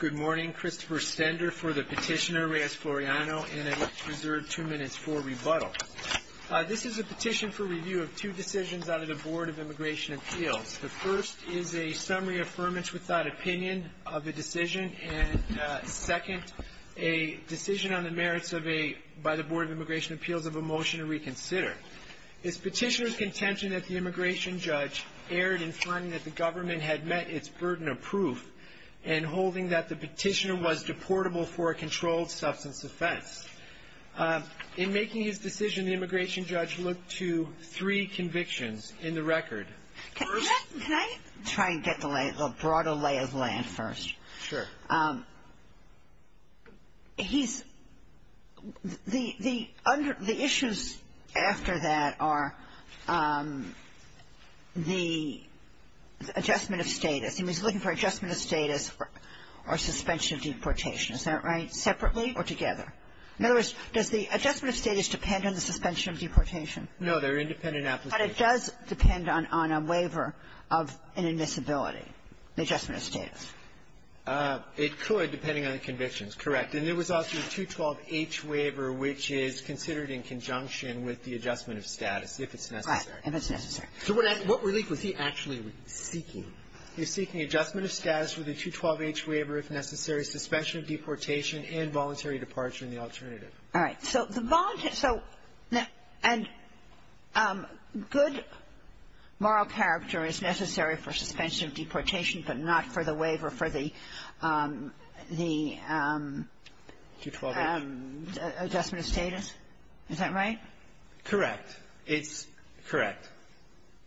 Good morning. Christopher Stender for the petitioner, Reyes-Floriano, and I'd like to reserve two minutes for rebuttal. This is a petition for review of two decisions out of the Board of Immigration Appeals. The first is a summary affirmance without opinion of a decision, and second, a decision on the merits by the Board of Immigration Appeals of a motion to reconsider. It's petitioner's contention that the immigration judge erred in finding that the government had met its burden of proof and holding that the petitioner was deportable for a controlled substance offense. In making his decision, the immigration judge looked to three convictions in the record. Can I try and get the lay, the broader lay of the land first? Sure. He's the, the issues after that are the adjustment of status. He was looking for adjustment of status or suspension of deportation. Is that right? Separately or together? In other words, does the adjustment of status depend on the suspension of deportation? No. They're independent applications. But it does depend on a waiver of an admissibility, the adjustment of status. It could, depending on the convictions. Correct. And there was also a 212-H waiver, which is considered in conjunction with the adjustment of status, if it's necessary. Right. If it's necessary. So what relief was he actually seeking? He was seeking adjustment of status with a 212-H waiver if necessary, suspension of deportation, and voluntary departure in the alternative. All right. So the voluntary so and good moral character is necessary for suspension of deportation, but not for the waiver for the, the adjustment of status? Is that right? Correct. It's correct.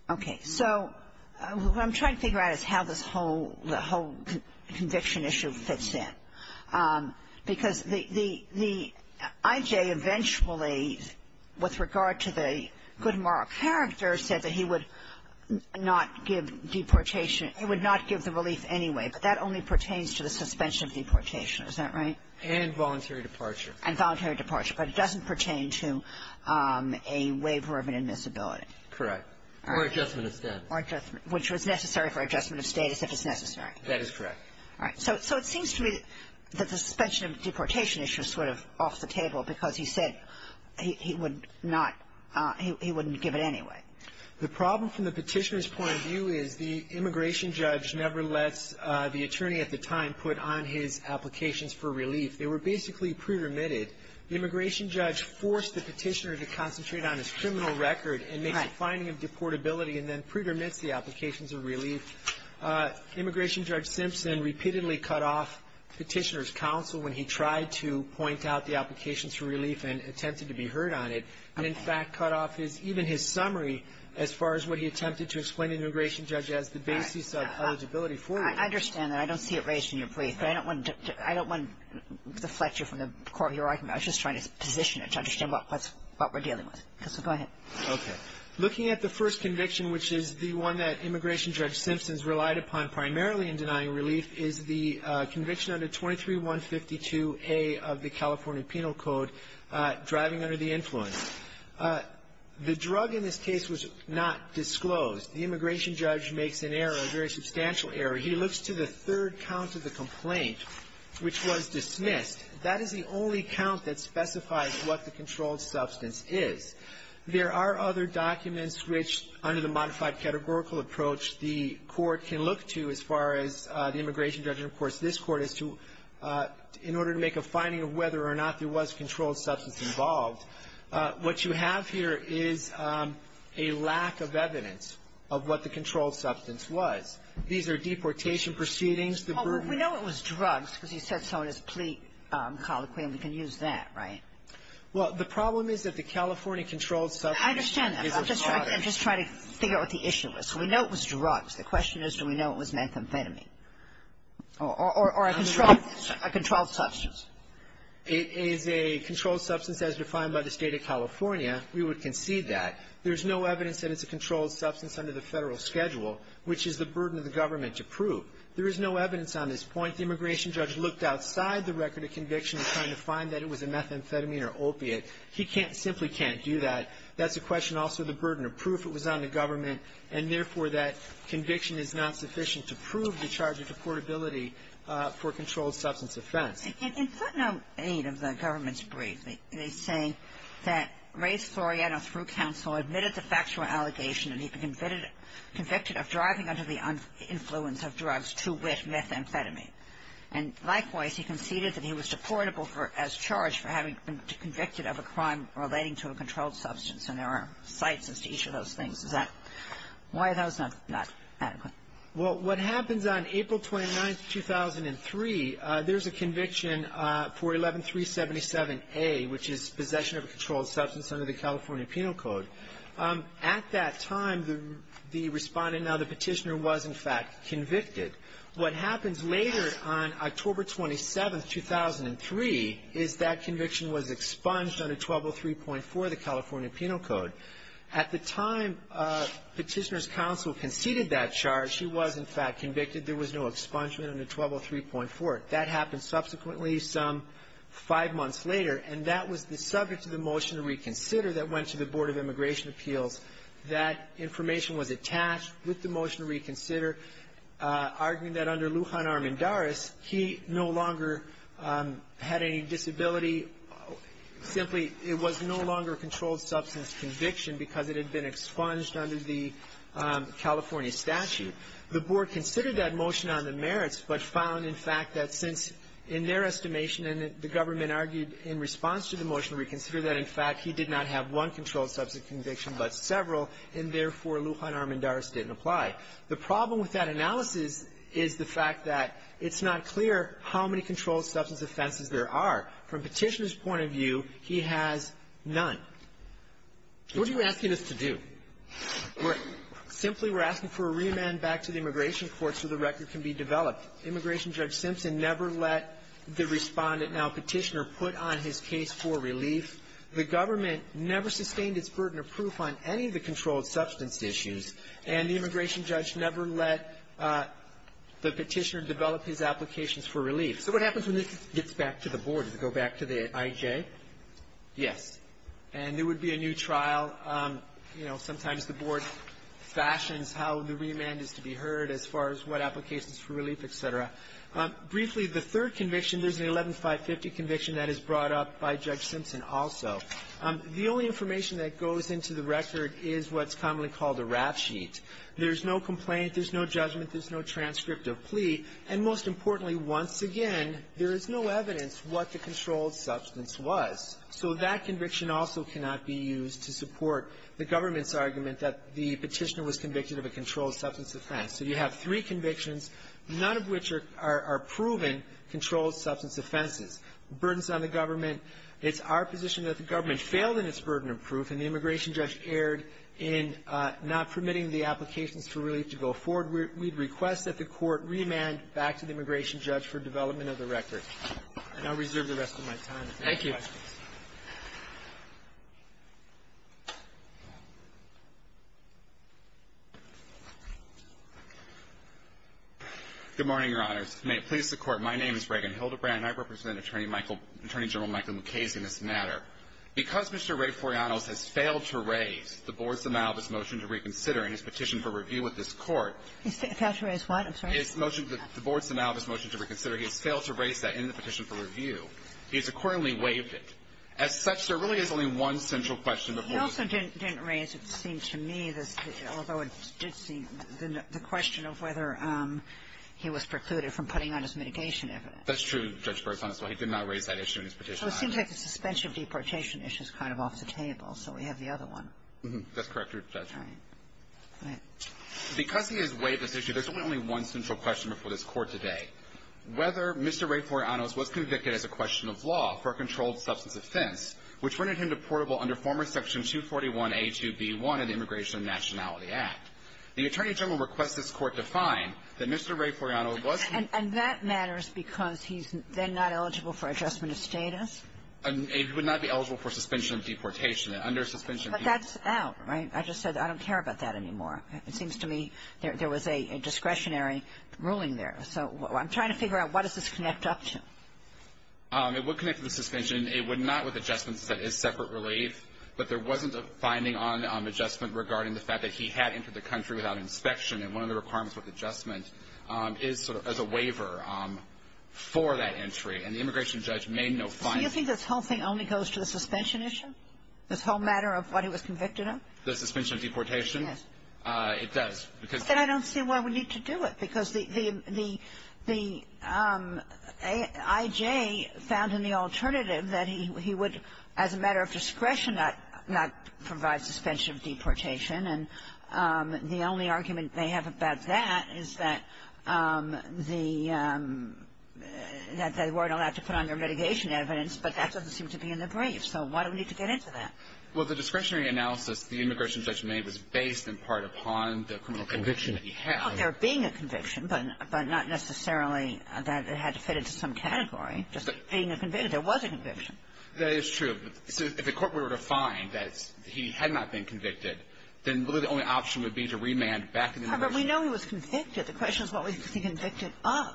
Okay. So what I'm trying to figure out is how this whole, the whole conviction issue fits in. Because the, the IJ eventually, with regard to the good moral character, said that he would not give deportation, he would not give the relief anyway, but that only pertains to the suspension of deportation. Is that right? And voluntary departure. And voluntary departure. But it doesn't pertain to a waiver of an admissibility. Correct. Or adjustment of status. Or adjustment, which was necessary for adjustment of status if it's necessary. That is correct. All right. So it seems to me that the suspension of deportation issue is sort of off the table because he said he would not, he wouldn't give it anyway. The problem from the petitioner's point of view is the immigration judge never lets the attorney at the time put on his applications for relief. They were basically pre-remitted. The immigration judge forced the petitioner to concentrate on his criminal record and makes a finding of deportability and then pre-remits the applications of relief. Immigration Judge Simpson repeatedly cut off petitioner's counsel when he tried to point out the applications for relief and attempted to be heard on it, and in fact cut off even his summary as far as what he attempted to explain to the immigration judge as the basis of eligibility for relief. I understand that. I don't see it raised in your brief, but I don't want to deflect you from the court you're talking about. I was just trying to position it to understand what we're dealing with. So go ahead. Okay. Looking at the first conviction, which is the one that Immigration Judge Simpson's relied upon primarily in denying relief, is the conviction under 23-152A of the California Penal Code, driving under the influence. The drug in this case was not disclosed. The immigration judge makes an error, a very substantial error. He looks to the third count of the complaint, which was dismissed. That is the only count that specifies what the controlled substance is. There are other documents which, under the modified categorical approach, the court can look to as far as the immigration judge. And, of course, this Court has to, in order to make a finding of whether or not there was controlled substance involved, what you have here is a lack of evidence of what the controlled substance was. These are deportation proceedings. Well, we know it was drugs because he said so in his plea colloquy, and we can use that, right? Well, the problem is that the California controlled substance is a product. I understand that. I'm just trying to figure out what the issue was. So we know it was drugs. The question is, do we know it was methamphetamine or a controlled substance? It is a controlled substance as defined by the State of California. We would concede that. There's no evidence that it's a controlled substance under the Federal schedule, which is the burden of the government to prove. There is no evidence on this point. The immigration judge looked outside the record of conviction, trying to find that it was a methamphetamine or opiate. He simply can't do that. That's a question also of the burden of proof. If it was on the government and, therefore, that conviction is not sufficient to prove the charge of deportability for a controlled substance offense. In footnote 8 of the government's brief, they say that Ray Floriano, through counsel, admitted the factual allegation that he'd been convicted of driving under the influence of drugs to which methamphetamine. And, likewise, he conceded that he was deportable for as charged for having been convicted of a crime relating to a controlled substance. And there are cites as to each of those things. Is that why that was not adequate? Well, what happens on April 29th, 2003, there's a conviction for 11377A, which is possession of a controlled substance under the California Penal Code. At that time, the respondent, now the petitioner, was, in fact, convicted. What happens later on October 27th, 2003, is that conviction was expunged under 1203.4 of the California Penal Code. At the time Petitioner's Counsel conceded that charge, she was, in fact, convicted. There was no expungement under 1203.4. That happened subsequently some five months later, and that was the subject of the motion to reconsider that went to the Board of Immigration Appeals. That information was attached with the motion to reconsider, arguing that under the California statute, it was no longer a controlled substance conviction because it had been expunged under the California statute. The Board considered that motion on the merits, but found, in fact, that since, in their estimation, and the government argued in response to the motion to reconsider that, in fact, he did not have one controlled substance conviction but several, and therefore, Lujan Armendariz didn't apply. The problem with that analysis is the fact that it's not clear how many controlled What are you asking us to do? Simply, we're asking for a reamend back to the immigration court so the record can be developed. Immigration Judge Simpson never let the Respondent now Petitioner put on his case for relief. The government never sustained its burden of proof on any of the controlled substance issues, and the immigration judge never let the Petitioner develop his applications for relief. So what happens when this gets back to the Board? Does it go back to the IJ? Yes. And there would be a new trial. You know, sometimes the Board fashions how the reamend is to be heard as far as what applications for relief, et cetera. Briefly, the third conviction, there's an 11-550 conviction that is brought up by Judge Simpson also. The only information that goes into the record is what's commonly called a rap sheet. There's no complaint. There's no judgment. There's no transcript of plea. And most importantly, once again, there is no evidence what the controlled substance was. So that conviction also cannot be used to support the government's argument that the Petitioner was convicted of a controlled substance offense. So you have three convictions, none of which are proven controlled substance offenses. Burdens on the government. It's our position that the government failed in its burden of proof, and the immigration judge erred in not permitting the applications for relief to go forward. We'd request that the Court reamend back to the immigration judge for development of the record. And I'll reserve the rest of my time if there are any questions. Thank you. Good morning, Your Honors. May it please the Court, my name is Reagan Hildebrand, and I represent Attorney General Michael Mukasey in this matter. Because Mr. Ray Foriano has failed to raise the Board's amount of his motion to reconsider, he has failed to raise that in the petition for review. He has accordingly waived it. As such, there really is only one central question before the Court. He also didn't raise, it seems to me, although it did seem, the question of whether he was precluded from putting on his mitigation evidence. That's true, Judge Burks. He did not raise that issue in his petition. So it seems like the suspension of deportation issue is kind of off the table, so we have the other one. That's correct, Your Honor. All right. Because he has waived this issue, there's only one central question before this Court today. Whether Mr. Ray Foriano was convicted as a question of law for a controlled substance offense, which rendered him deportable under former Section 241A2B1 of the Immigration and Nationality Act. The Attorney General requests this Court define that Mr. Ray Foriano was not And that matters because he's then not eligible for adjustment of status? He would not be eligible for suspension of deportation. And under suspension of deportation But that's out, right? I just said I don't care about that anymore. It seems to me there was a discretionary ruling there. So I'm trying to figure out what does this connect up to? It would connect to the suspension. It would not with adjustments. That is separate relief. But there wasn't a finding on adjustment regarding the fact that he had entered the country without inspection. And one of the requirements with adjustment is sort of as a waiver for that entry. And the immigration judge made no finding. So you think this whole thing only goes to the suspension issue? This whole matter of what he was convicted of? The suspension of deportation? Yes. It does. But then I don't see why we need to do it. Because the I.J. found in the alternative that he would, as a matter of discretion, not provide suspension of deportation. And the only argument they have about that is that the they weren't allowed to put on their mitigation evidence, but that doesn't seem to be in the brief. So why do we need to get into that? Well, the discretionary analysis the immigration judge made was based in part upon the criminal conviction that he had. Well, there being a conviction, but not necessarily that it had to fit into some category. Just being a convicted. There was a conviction. That is true. If the court were to find that he had not been convicted, then really the only option would be to remand back to the immigration judge. But we know he was convicted. The question is what was he convicted of?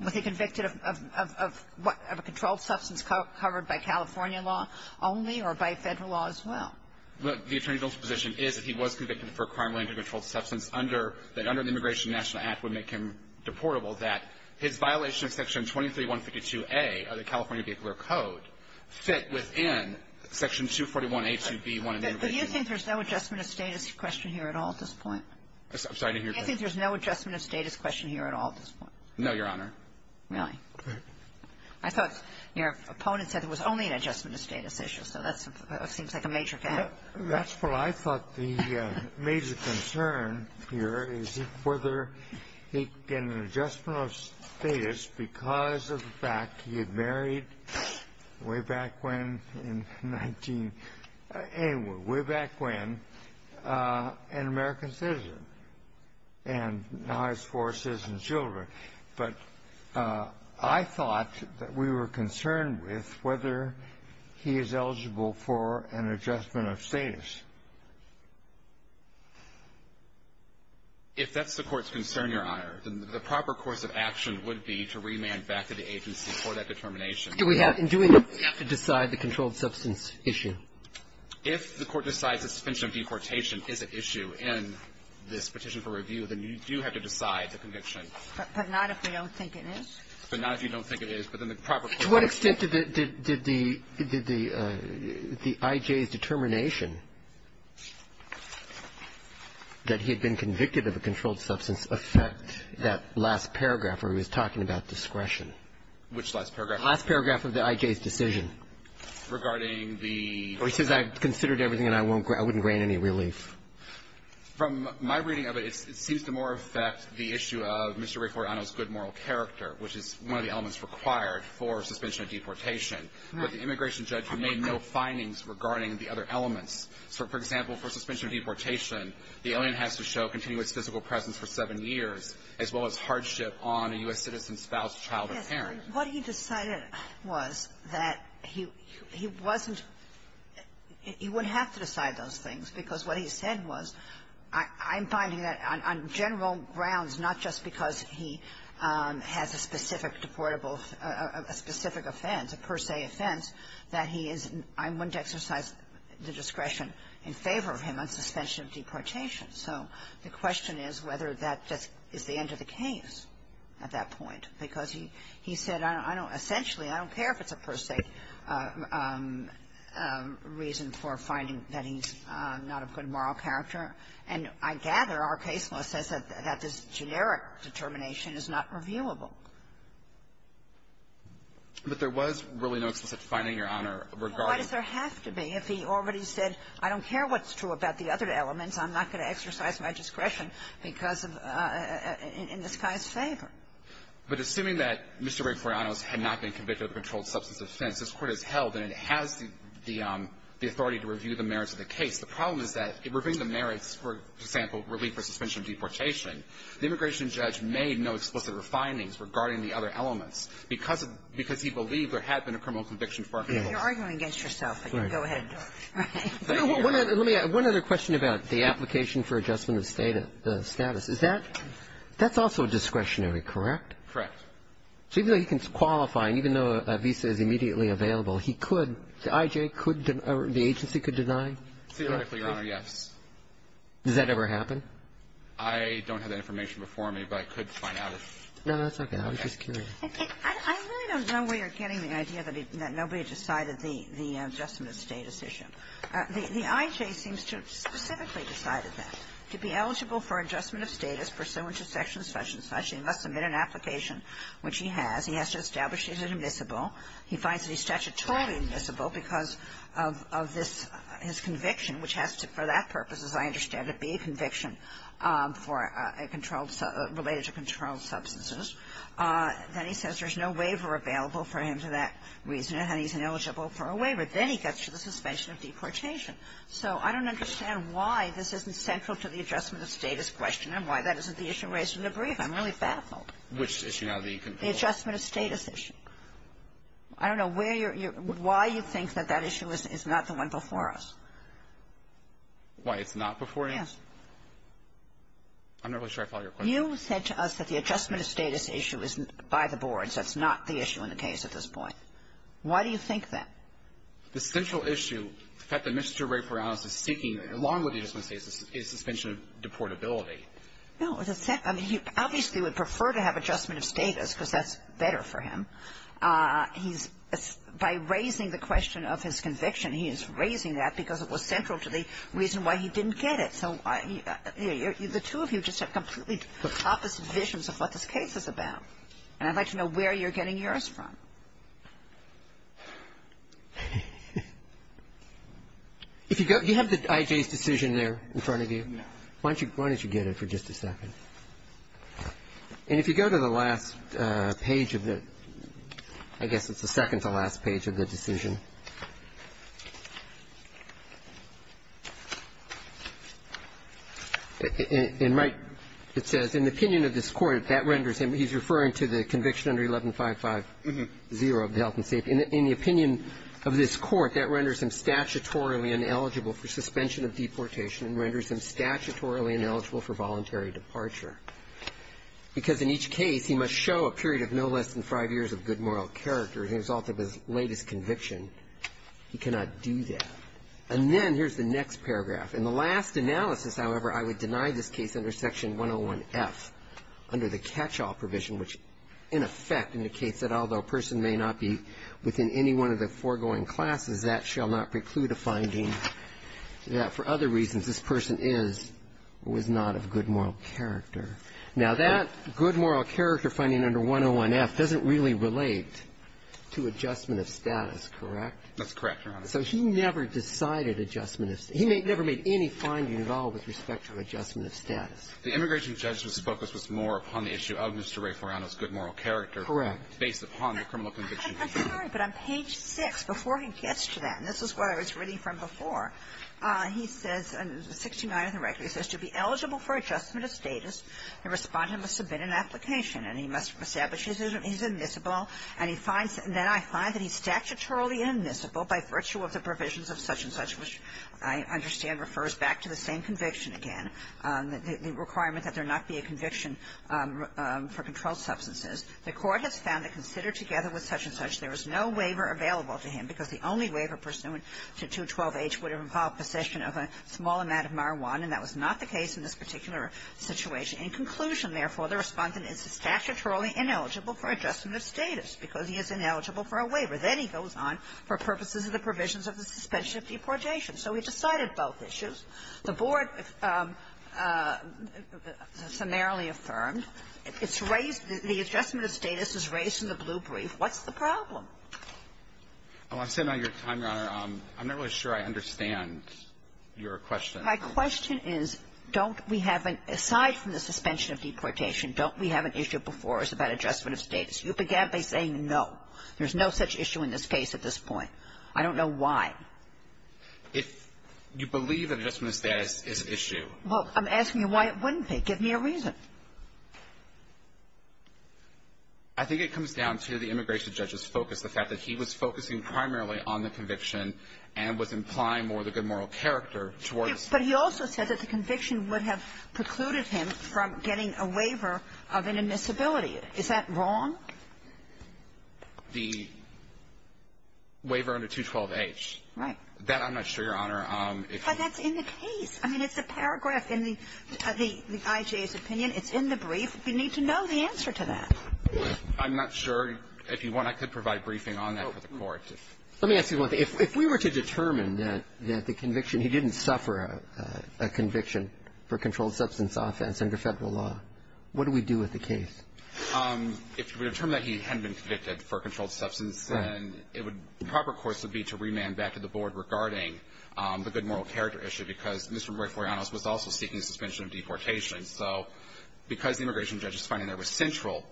Was he convicted of what? Of a controlled substance covered by California law only or by Federal law as well? Look, the attorney general's position is that he was convicted for a crime related to a controlled substance under the Immigration National Act would make him deportable, that his violation of Section 23152a of the California Vehicular Code fit within Section 241a2b1 of the Immigration National Act. But you think there's no adjustment of status question here at all at this point? I'm sorry. I think there's no adjustment of status question here at all at this point. No, Your Honor. Really? I thought your opponent said there was only an adjustment of status issue. So that seems like a major thing. That's what I thought the major concern here is whether he can get an adjustment of status because of the fact he had married way back when in 19 anyway, way back when an American citizen and now has four citizen children. But I thought that we were concerned with whether he is eligible for an adjustment of status. If that's the Court's concern, Your Honor, then the proper course of action would be to remand back to the agency for that determination. Do we have to decide the controlled substance issue? If the Court decides suspension of deportation is an issue in this petition for review, then you do have to decide the conviction. But not if we don't think it is? But not if you don't think it is. To what extent did the I.J.'s determination that he had been convicted of a controlled substance affect that last paragraph where he was talking about discretion? Which last paragraph? The last paragraph of the I.J.'s decision. Regarding the ---- Well, he says, I've considered everything, and I won't grant any relief. From my reading of it, it seems to more affect the issue of Mr. Rayfortano's good moral character, which is one of the elements required for suspension of deportation. But the immigration judge made no findings regarding the other elements. So, for example, for suspension of deportation, the alien has to show continuous physical presence for seven years, as well as hardship on a U.S. citizen's spouse, child, or parent. Yes. What he decided was that he wasn't ---- he wouldn't have to decide those things, because what he said was, I'm finding that on general grounds, not just because he has a specific deportable ---- a specific offense, a per se offense, that he is ---- I wouldn't exercise the discretion in favor of him on suspension of deportation. So the question is whether that is the end of the case at that point, because he said, I don't ---- essentially, I don't care if it's a per se reason for finding that he's not a good moral character. And I gather our case law says that this generic determination is not reviewable. But there was really no explicit finding, Your Honor, regarding ---- Well, why does there have to be? If he already said, I don't care what's true about the other elements, I'm not going to exercise my discretion because of ---- in this guy's favor. But assuming that Mr. Gregoriano had not been convicted of a controlled substance offense, this Court has held, and it has the authority to review the merits of the case. The problem is that reviewing the merits, for example, relief for suspension of deportation, the immigration judge made no explicit findings regarding the other elements because of the ---- because he believed there had been a criminal conviction for ---- You're arguing against yourself, but go ahead. Let me add one other question about the application for adjustment of status. Is that ---- that's also discretionary, correct? Correct. So even though he can qualify, and even though a visa is immediately available, he could ---- the I.J. could ---- the agency could deny? Theoretically, Your Honor, yes. Does that ever happen? I don't have that information before me, but I could find out if ---- No, that's okay. I was just curious. I really don't know where you're getting the idea that he ---- that nobody decided the adjustment of status issue. The I.J. seems to have specifically decided that. To be eligible for adjustment of status pursuant to section xxxx, he must submit an application, which he has. He has to establish he is admissible. He finds that he's statutorily admissible because of this, his conviction, which has to, for that purpose, as I understand it, be a conviction for a controlled substance, related to controlled substances. Then he says there's no waiver available for him for that reason, and he's ineligible for a waiver. Then he gets to the suspension of deportation. So I don't understand why this isn't central to the adjustment of status question and why that isn't the issue raised in the brief. I'm really baffled. Which issue now that you can ---- The adjustment of status issue. I don't know where you're ---- why you think that that issue is not the one before us. Why it's not before us? Yes. I'm not really sure I follow your question. You said to us that the adjustment of status issue isn't by the boards. That's not the issue in the case at this point. Why do you think that? The central issue, the fact that Mr. Rayferonis is seeking, along with the adjustment of status, is suspension of deportability. No. I mean, he obviously would prefer to have adjustment of status because that's better for him. He's by raising the question of his conviction, he is raising that because it was central to the reason why he didn't get it. So the two of you just have completely opposite visions of what this case is about. And I'd like to know where you're getting yours from. If you go ---- do you have the IJ's decision there in front of you? No. Why don't you get it for just a second? And if you go to the last page of the ---- I guess it's the second to last page of the decision. In my ---- it says, in the opinion of this Court, that renders him ---- he's referring to the conviction under 1155-0 of the health and safety. In the opinion of this Court, that renders him statutorily ineligible for suspension of deportation and renders him statutorily ineligible for voluntary departure because in each case he must show a period of no less than five years of good moral character as a result of his latest conviction. He cannot do that. And then here's the next paragraph. In the last analysis, however, I would deny this case under section 101-F, under the catch-all provision, which in effect indicates that although a person may not be within any one of the foregoing classes, that shall not preclude a finding that for other reasons this person is or was not of good moral character. Now, that good moral character finding under 101-F doesn't really relate to adjustment of status, correct? That's correct, Your Honor. So he never decided adjustment of status. He never made any finding at all with respect to adjustment of status. The immigration judge's focus was more upon the issue of Mr. Ray Foriano's good moral character. Correct. Based upon the criminal conviction. I'm sorry, but on page 6, before he gets to that, and this is where I was reading from before, he says, 69 of the record, he says, to be eligible for adjustment of status, the Respondent must submit an application. And he must establish he's admissible. And he finds, and then I find that he's statutorily admissible by virtue of the provisions of such-and-such, which I understand refers back to the same conviction again, the requirement that there not be a conviction for controlled substances. The Court has found that considered together with such-and-such, there is no waiver available to him because the only waiver pursuant to 212H would involve possession of a small amount of marijuana, and that was not the case in this particular situation. In conclusion, therefore, the Respondent is statutorily ineligible for adjustment of status because he is ineligible for a waiver. Then he goes on for purposes of the provisions of the suspension of deportation. So he decided both issues. The Board summarily affirmed. It's raised the adjustment of status is raised in the blue brief. What's the problem? Oh, I'm sitting on your time, Your Honor. I'm not really sure I understand your question. My question is, don't we have an aside from the suspension of deportation, don't we have an issue before us about adjustment of status? You began by saying no. There's no such issue in this case at this point. I don't know why. If you believe that adjustment of status is an issue. Well, I'm asking you why it wouldn't be. Give me a reason. I think it comes down to the immigration judge's focus, the fact that he was focusing primarily on the conviction and was implying more of the good moral character towards the conviction. But he also said that the conviction would have precluded him from getting a waiver of inadmissibility. Is that wrong? The waiver under 212H. Right. That I'm not sure, Your Honor. But that's in the case. I mean, it's a paragraph in the IJA's opinion. It's in the brief. We need to know the answer to that. I'm not sure. If you want, I could provide briefing on that for the Court. Let me ask you one thing. If we were to determine that the conviction, he didn't suffer a conviction for controlled substance offense under Federal law, what do we do with the case? If we determine that he hadn't been convicted for controlled substance, then it would be proper, of course, to be to remand back to the Board regarding the good moral character issue, because Mr. Roy Foriano was also seeking suspension of deportation. So because the immigration judge is finding that was central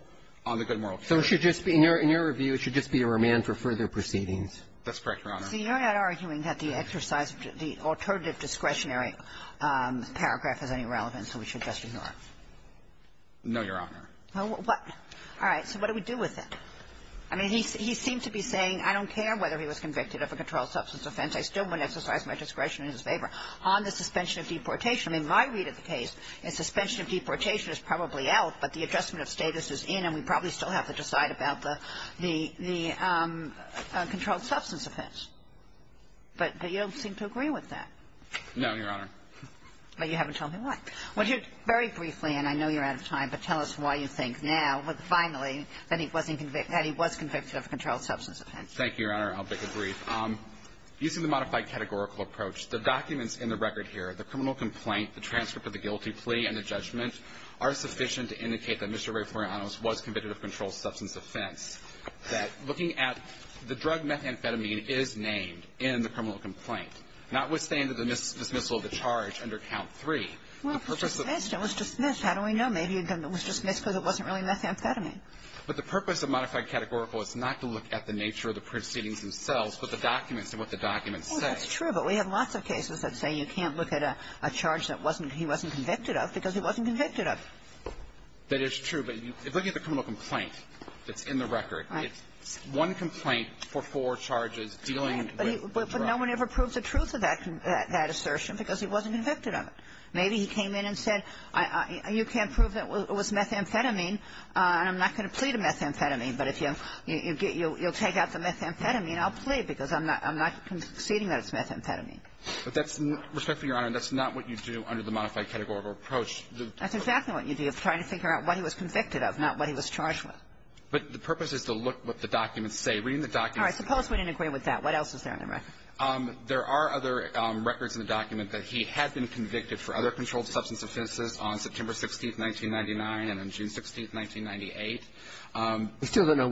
on the good moral character issue. So it should just be, in your review, it should just be a remand for further proceedings. That's correct, Your Honor. So you're not arguing that the exercise of the alternative discretionary paragraph is any relevant, so we should just ignore it? No, Your Honor. What? All right. So what do we do with it? I mean, he seems to be saying, I don't care whether he was convicted of a controlled substance offense, I still wouldn't exercise my discretion in his favor, on the suspension of deportation. In my read of the case, a suspension of deportation is probably out, but the adjustment of status is in, and we probably still have to decide about the controlled substance offense. But you don't seem to agree with that. No, Your Honor. But you haven't told me why. Would you very briefly, and I know you're out of time, but tell us why you think now, finally, that he was convicted of a controlled substance offense. Thank you, Your Honor. I'll make it brief. Using the modified categorical approach, the documents in the record here, the criminal complaint, the transcript of the guilty plea and the judgment, are sufficient to indicate that Mr. Rayforeanos was convicted of a controlled substance offense, that looking at the drug methamphetamine is named in the criminal complaint, notwithstanding the dismissal of the charge under Count 3. Well, if it was dismissed, it was dismissed. How do we know? Maybe it was dismissed because it wasn't really methamphetamine. But the purpose of modified categorical is not to look at the nature of the proceedings themselves, but the documents and what the documents say. Well, that's true. But we have lots of cases that say you can't look at a charge that wasn't he wasn't convicted of because he wasn't convicted of it. That is true. But if you look at the criminal complaint that's in the record, it's one complaint for four charges dealing with drugs. Right. But no one ever proves the truth of that assertion because he wasn't convicted of it. Maybe he came in and said, you can't prove that it was methamphetamine, and I'm not going to plead a methamphetamine. But if you'll take out the methamphetamine, I'll plead because I'm not conceding that it's methamphetamine. But that's not what you do under the modified categorical approach. That's exactly what you do. You're trying to figure out what he was convicted of, not what he was charged with. But the purpose is to look what the documents say. Read the documents. All right. Suppose we didn't agree with that. What else is there in the record? There are other records in the document that he had been convicted for other controlled substance offenses on September 16th, 1999, and on June 16th, 1998. We still don't know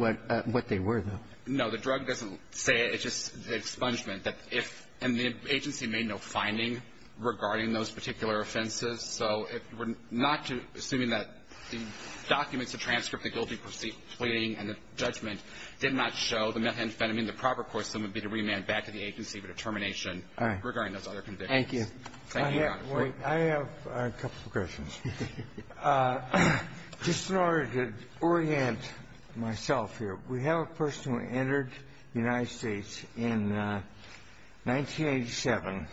what they were, though. No. The drug doesn't say it. It's just the expungement that if the agency made no finding regarding those particular offenses. So if we're not assuming that the documents, the transcript that you'll be pleading and the judgment did not show the methamphetamine, the proper course then would be to remand back to the agency for determination regarding those other convictions. Thank you, Your Honor. I have a couple of questions. Just in order to orient myself here, we have a person who entered the United States in 1987,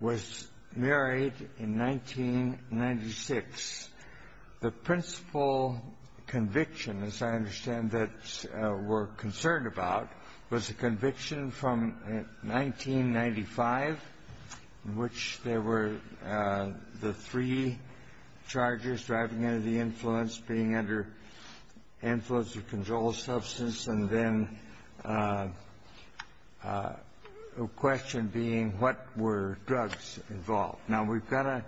was married in 1996. The principal conviction, as I understand that we're concerned about, was a conviction from 1995 in which there were the three charges, driving under the influence, being under influence of controlled substance, and then a question being what were drugs involved. Now, we've got a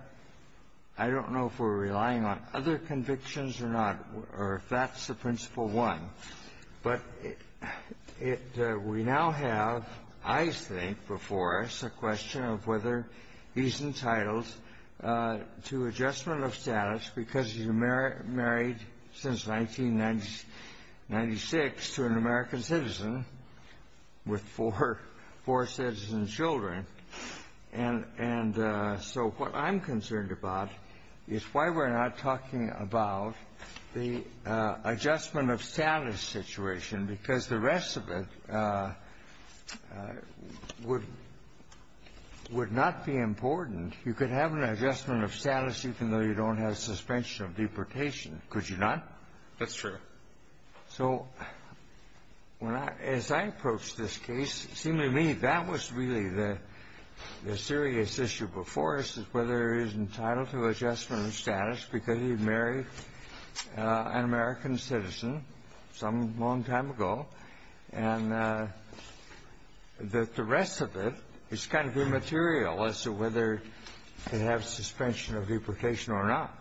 — I don't know if we're relying on other convictions or not, or if that's the principal one. But it — we now have, I think, before us a question of whether he's entitled to adjustment of status because he's married since 1996 to an American citizen with four citizen children. And so what I'm concerned about is why we're not talking about the adjudication of the adjustment of status situation, because the rest of it would not be important. You could have an adjustment of status even though you don't have suspension of deportation. Could you not? That's true. So as I approach this case, it seemed to me that was really the serious issue before us, is whether he's entitled to adjustment of status because he married an American citizen some long time ago, and that the rest of it is kind of immaterial as to whether they have suspension of deportation or not.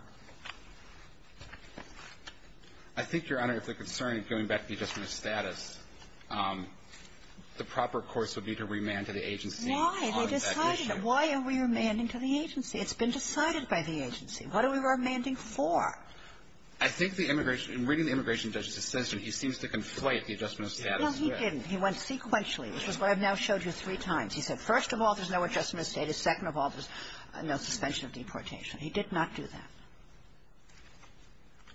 I think, Your Honor, if the concern is going back to the adjustment of status, the proper course would be to remand to the agency on that issue. Why are we remanding to the agency? It's been decided by the agency. What are we remanding for? I think the immigration — in reading the immigration judge's assessment, he seems to conflate the adjustment of status with — No, he didn't. He went sequentially, which is what I've now showed you three times. He said, first of all, there's no adjustment of status. Second of all, there's no suspension of deportation. He did not do that.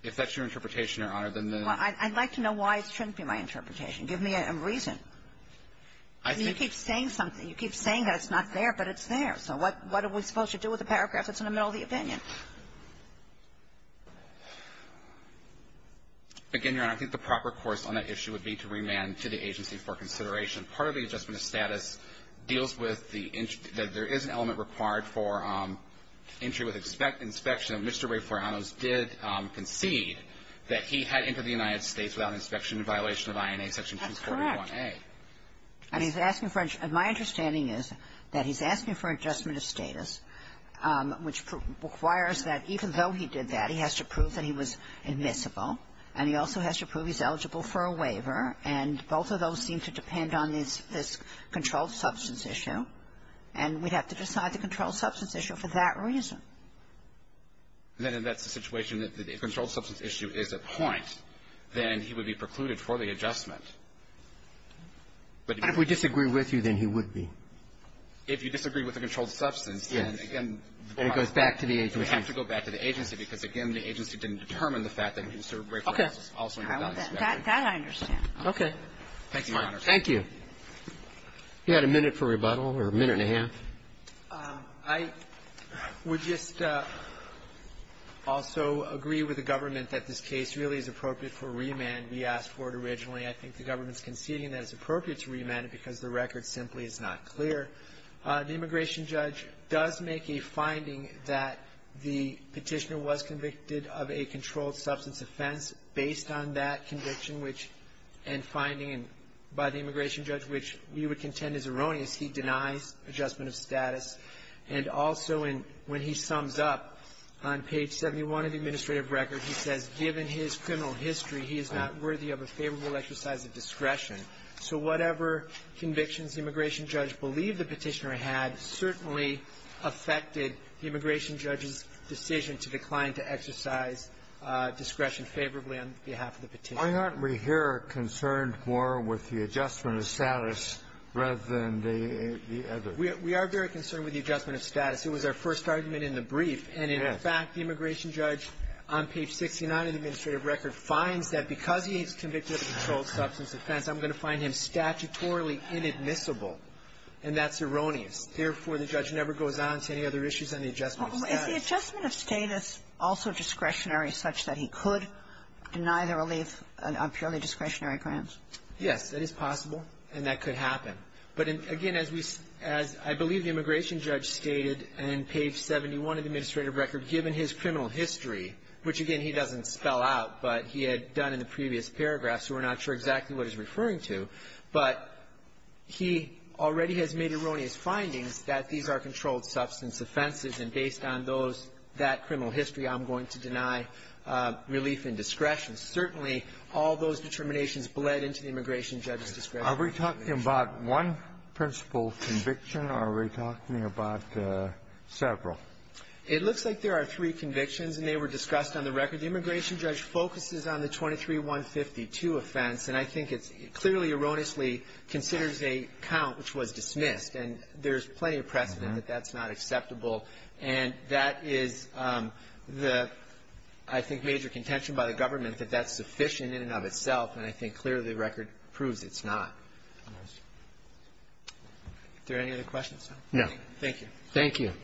If that's your interpretation, Your Honor, then the — Well, I'd like to know why it shouldn't be my interpretation. Give me a reason. I think — You keep saying that it's not there, but it's there. So what are we supposed to do with the paragraph that's in the middle of the opinion? Again, Your Honor, I think the proper course on that issue would be to remand to the agency for consideration. Part of the adjustment of status deals with the — that there is an element required for entry with inspection. Mr. Ray Florianos did concede that he had entered the United States without inspection in violation of INA Section 241a. That's correct. And he's asking for — and my understanding is that he's asking for adjustment of status, which requires that even though he did that, he has to prove that he was admissible, and he also has to prove he's eligible for a waiver, and both of those seem to depend on this controlled substance issue, and we'd have to decide the controlled substance issue for that reason. Then in that situation, if the controlled substance issue is a point, then he would be precluded for the adjustment. But if we disagree with you, then he would be. If you disagree with the controlled substance, then, again, the problem is we have to go back to the agency because, again, the agency didn't determine the fact that Mr. Ray Florianos also had not inspected. Okay. That I understand. Okay. Thank you, Your Honor. Thank you. You had a minute for rebuttal, or a minute and a half. I would just also agree with the government that this case really is appropriate for remand. We asked for it originally. I think the government is conceding that it's appropriate to remand it because the record simply is not clear. The immigration judge does make a finding that the Petitioner was convicted of a controlled substance offense based on that conviction, which end finding by the immigration judge, which we would contend is erroneous. He denies adjustment of status. And also, when he sums up on page 71 of the administrative record, he says, given his criminal history, he is not worthy of a favorable exercise of discretion. So whatever convictions the immigration judge believed the Petitioner had certainly affected the immigration judge's decision to decline to exercise discretion favorably on behalf of the Petitioner. Why aren't we here concerned more with the adjustment of status rather than the other? We are very concerned with the adjustment of status. It was our first argument in the brief, and in fact, the immigration judge on page 69 of the administrative record finds that because he is convicted of a controlled substance offense, I'm going to find him statutorily inadmissible. And that's erroneous. Therefore, the judge never goes on to any other issues on the adjustment of status. Kagan. Is the adjustment of status also discretionary such that he could deny the relief on purely discretionary grounds? Yes. That is possible, and that could happen. But again, as we – as I believe the immigration judge stated on page 71 of the administrative record, given his criminal history, which, again, he doesn't spell out, but he had done in the previous paragraph, so we're not sure exactly what he's referring to, but he already has made erroneous findings that these are controlled substance offenses, and based on those – that criminal history, I'm going to deny relief and discretion. Certainly, all those determinations bled into the immigration judge's discretion. Are we talking about one principal conviction, or are we talking about several? It looks like there are three convictions, and they were discussed on the record. The immigration judge focuses on the 23-152 offense, and I think it clearly erroneously considers a count which was dismissed, and there's plenty of precedent that that's not acceptable. And that is the, I think, major contention by the government, that that's sufficient in and of itself, and I think clearly the record proves it's not. Are there any other questions? No. Thank you. Thank you.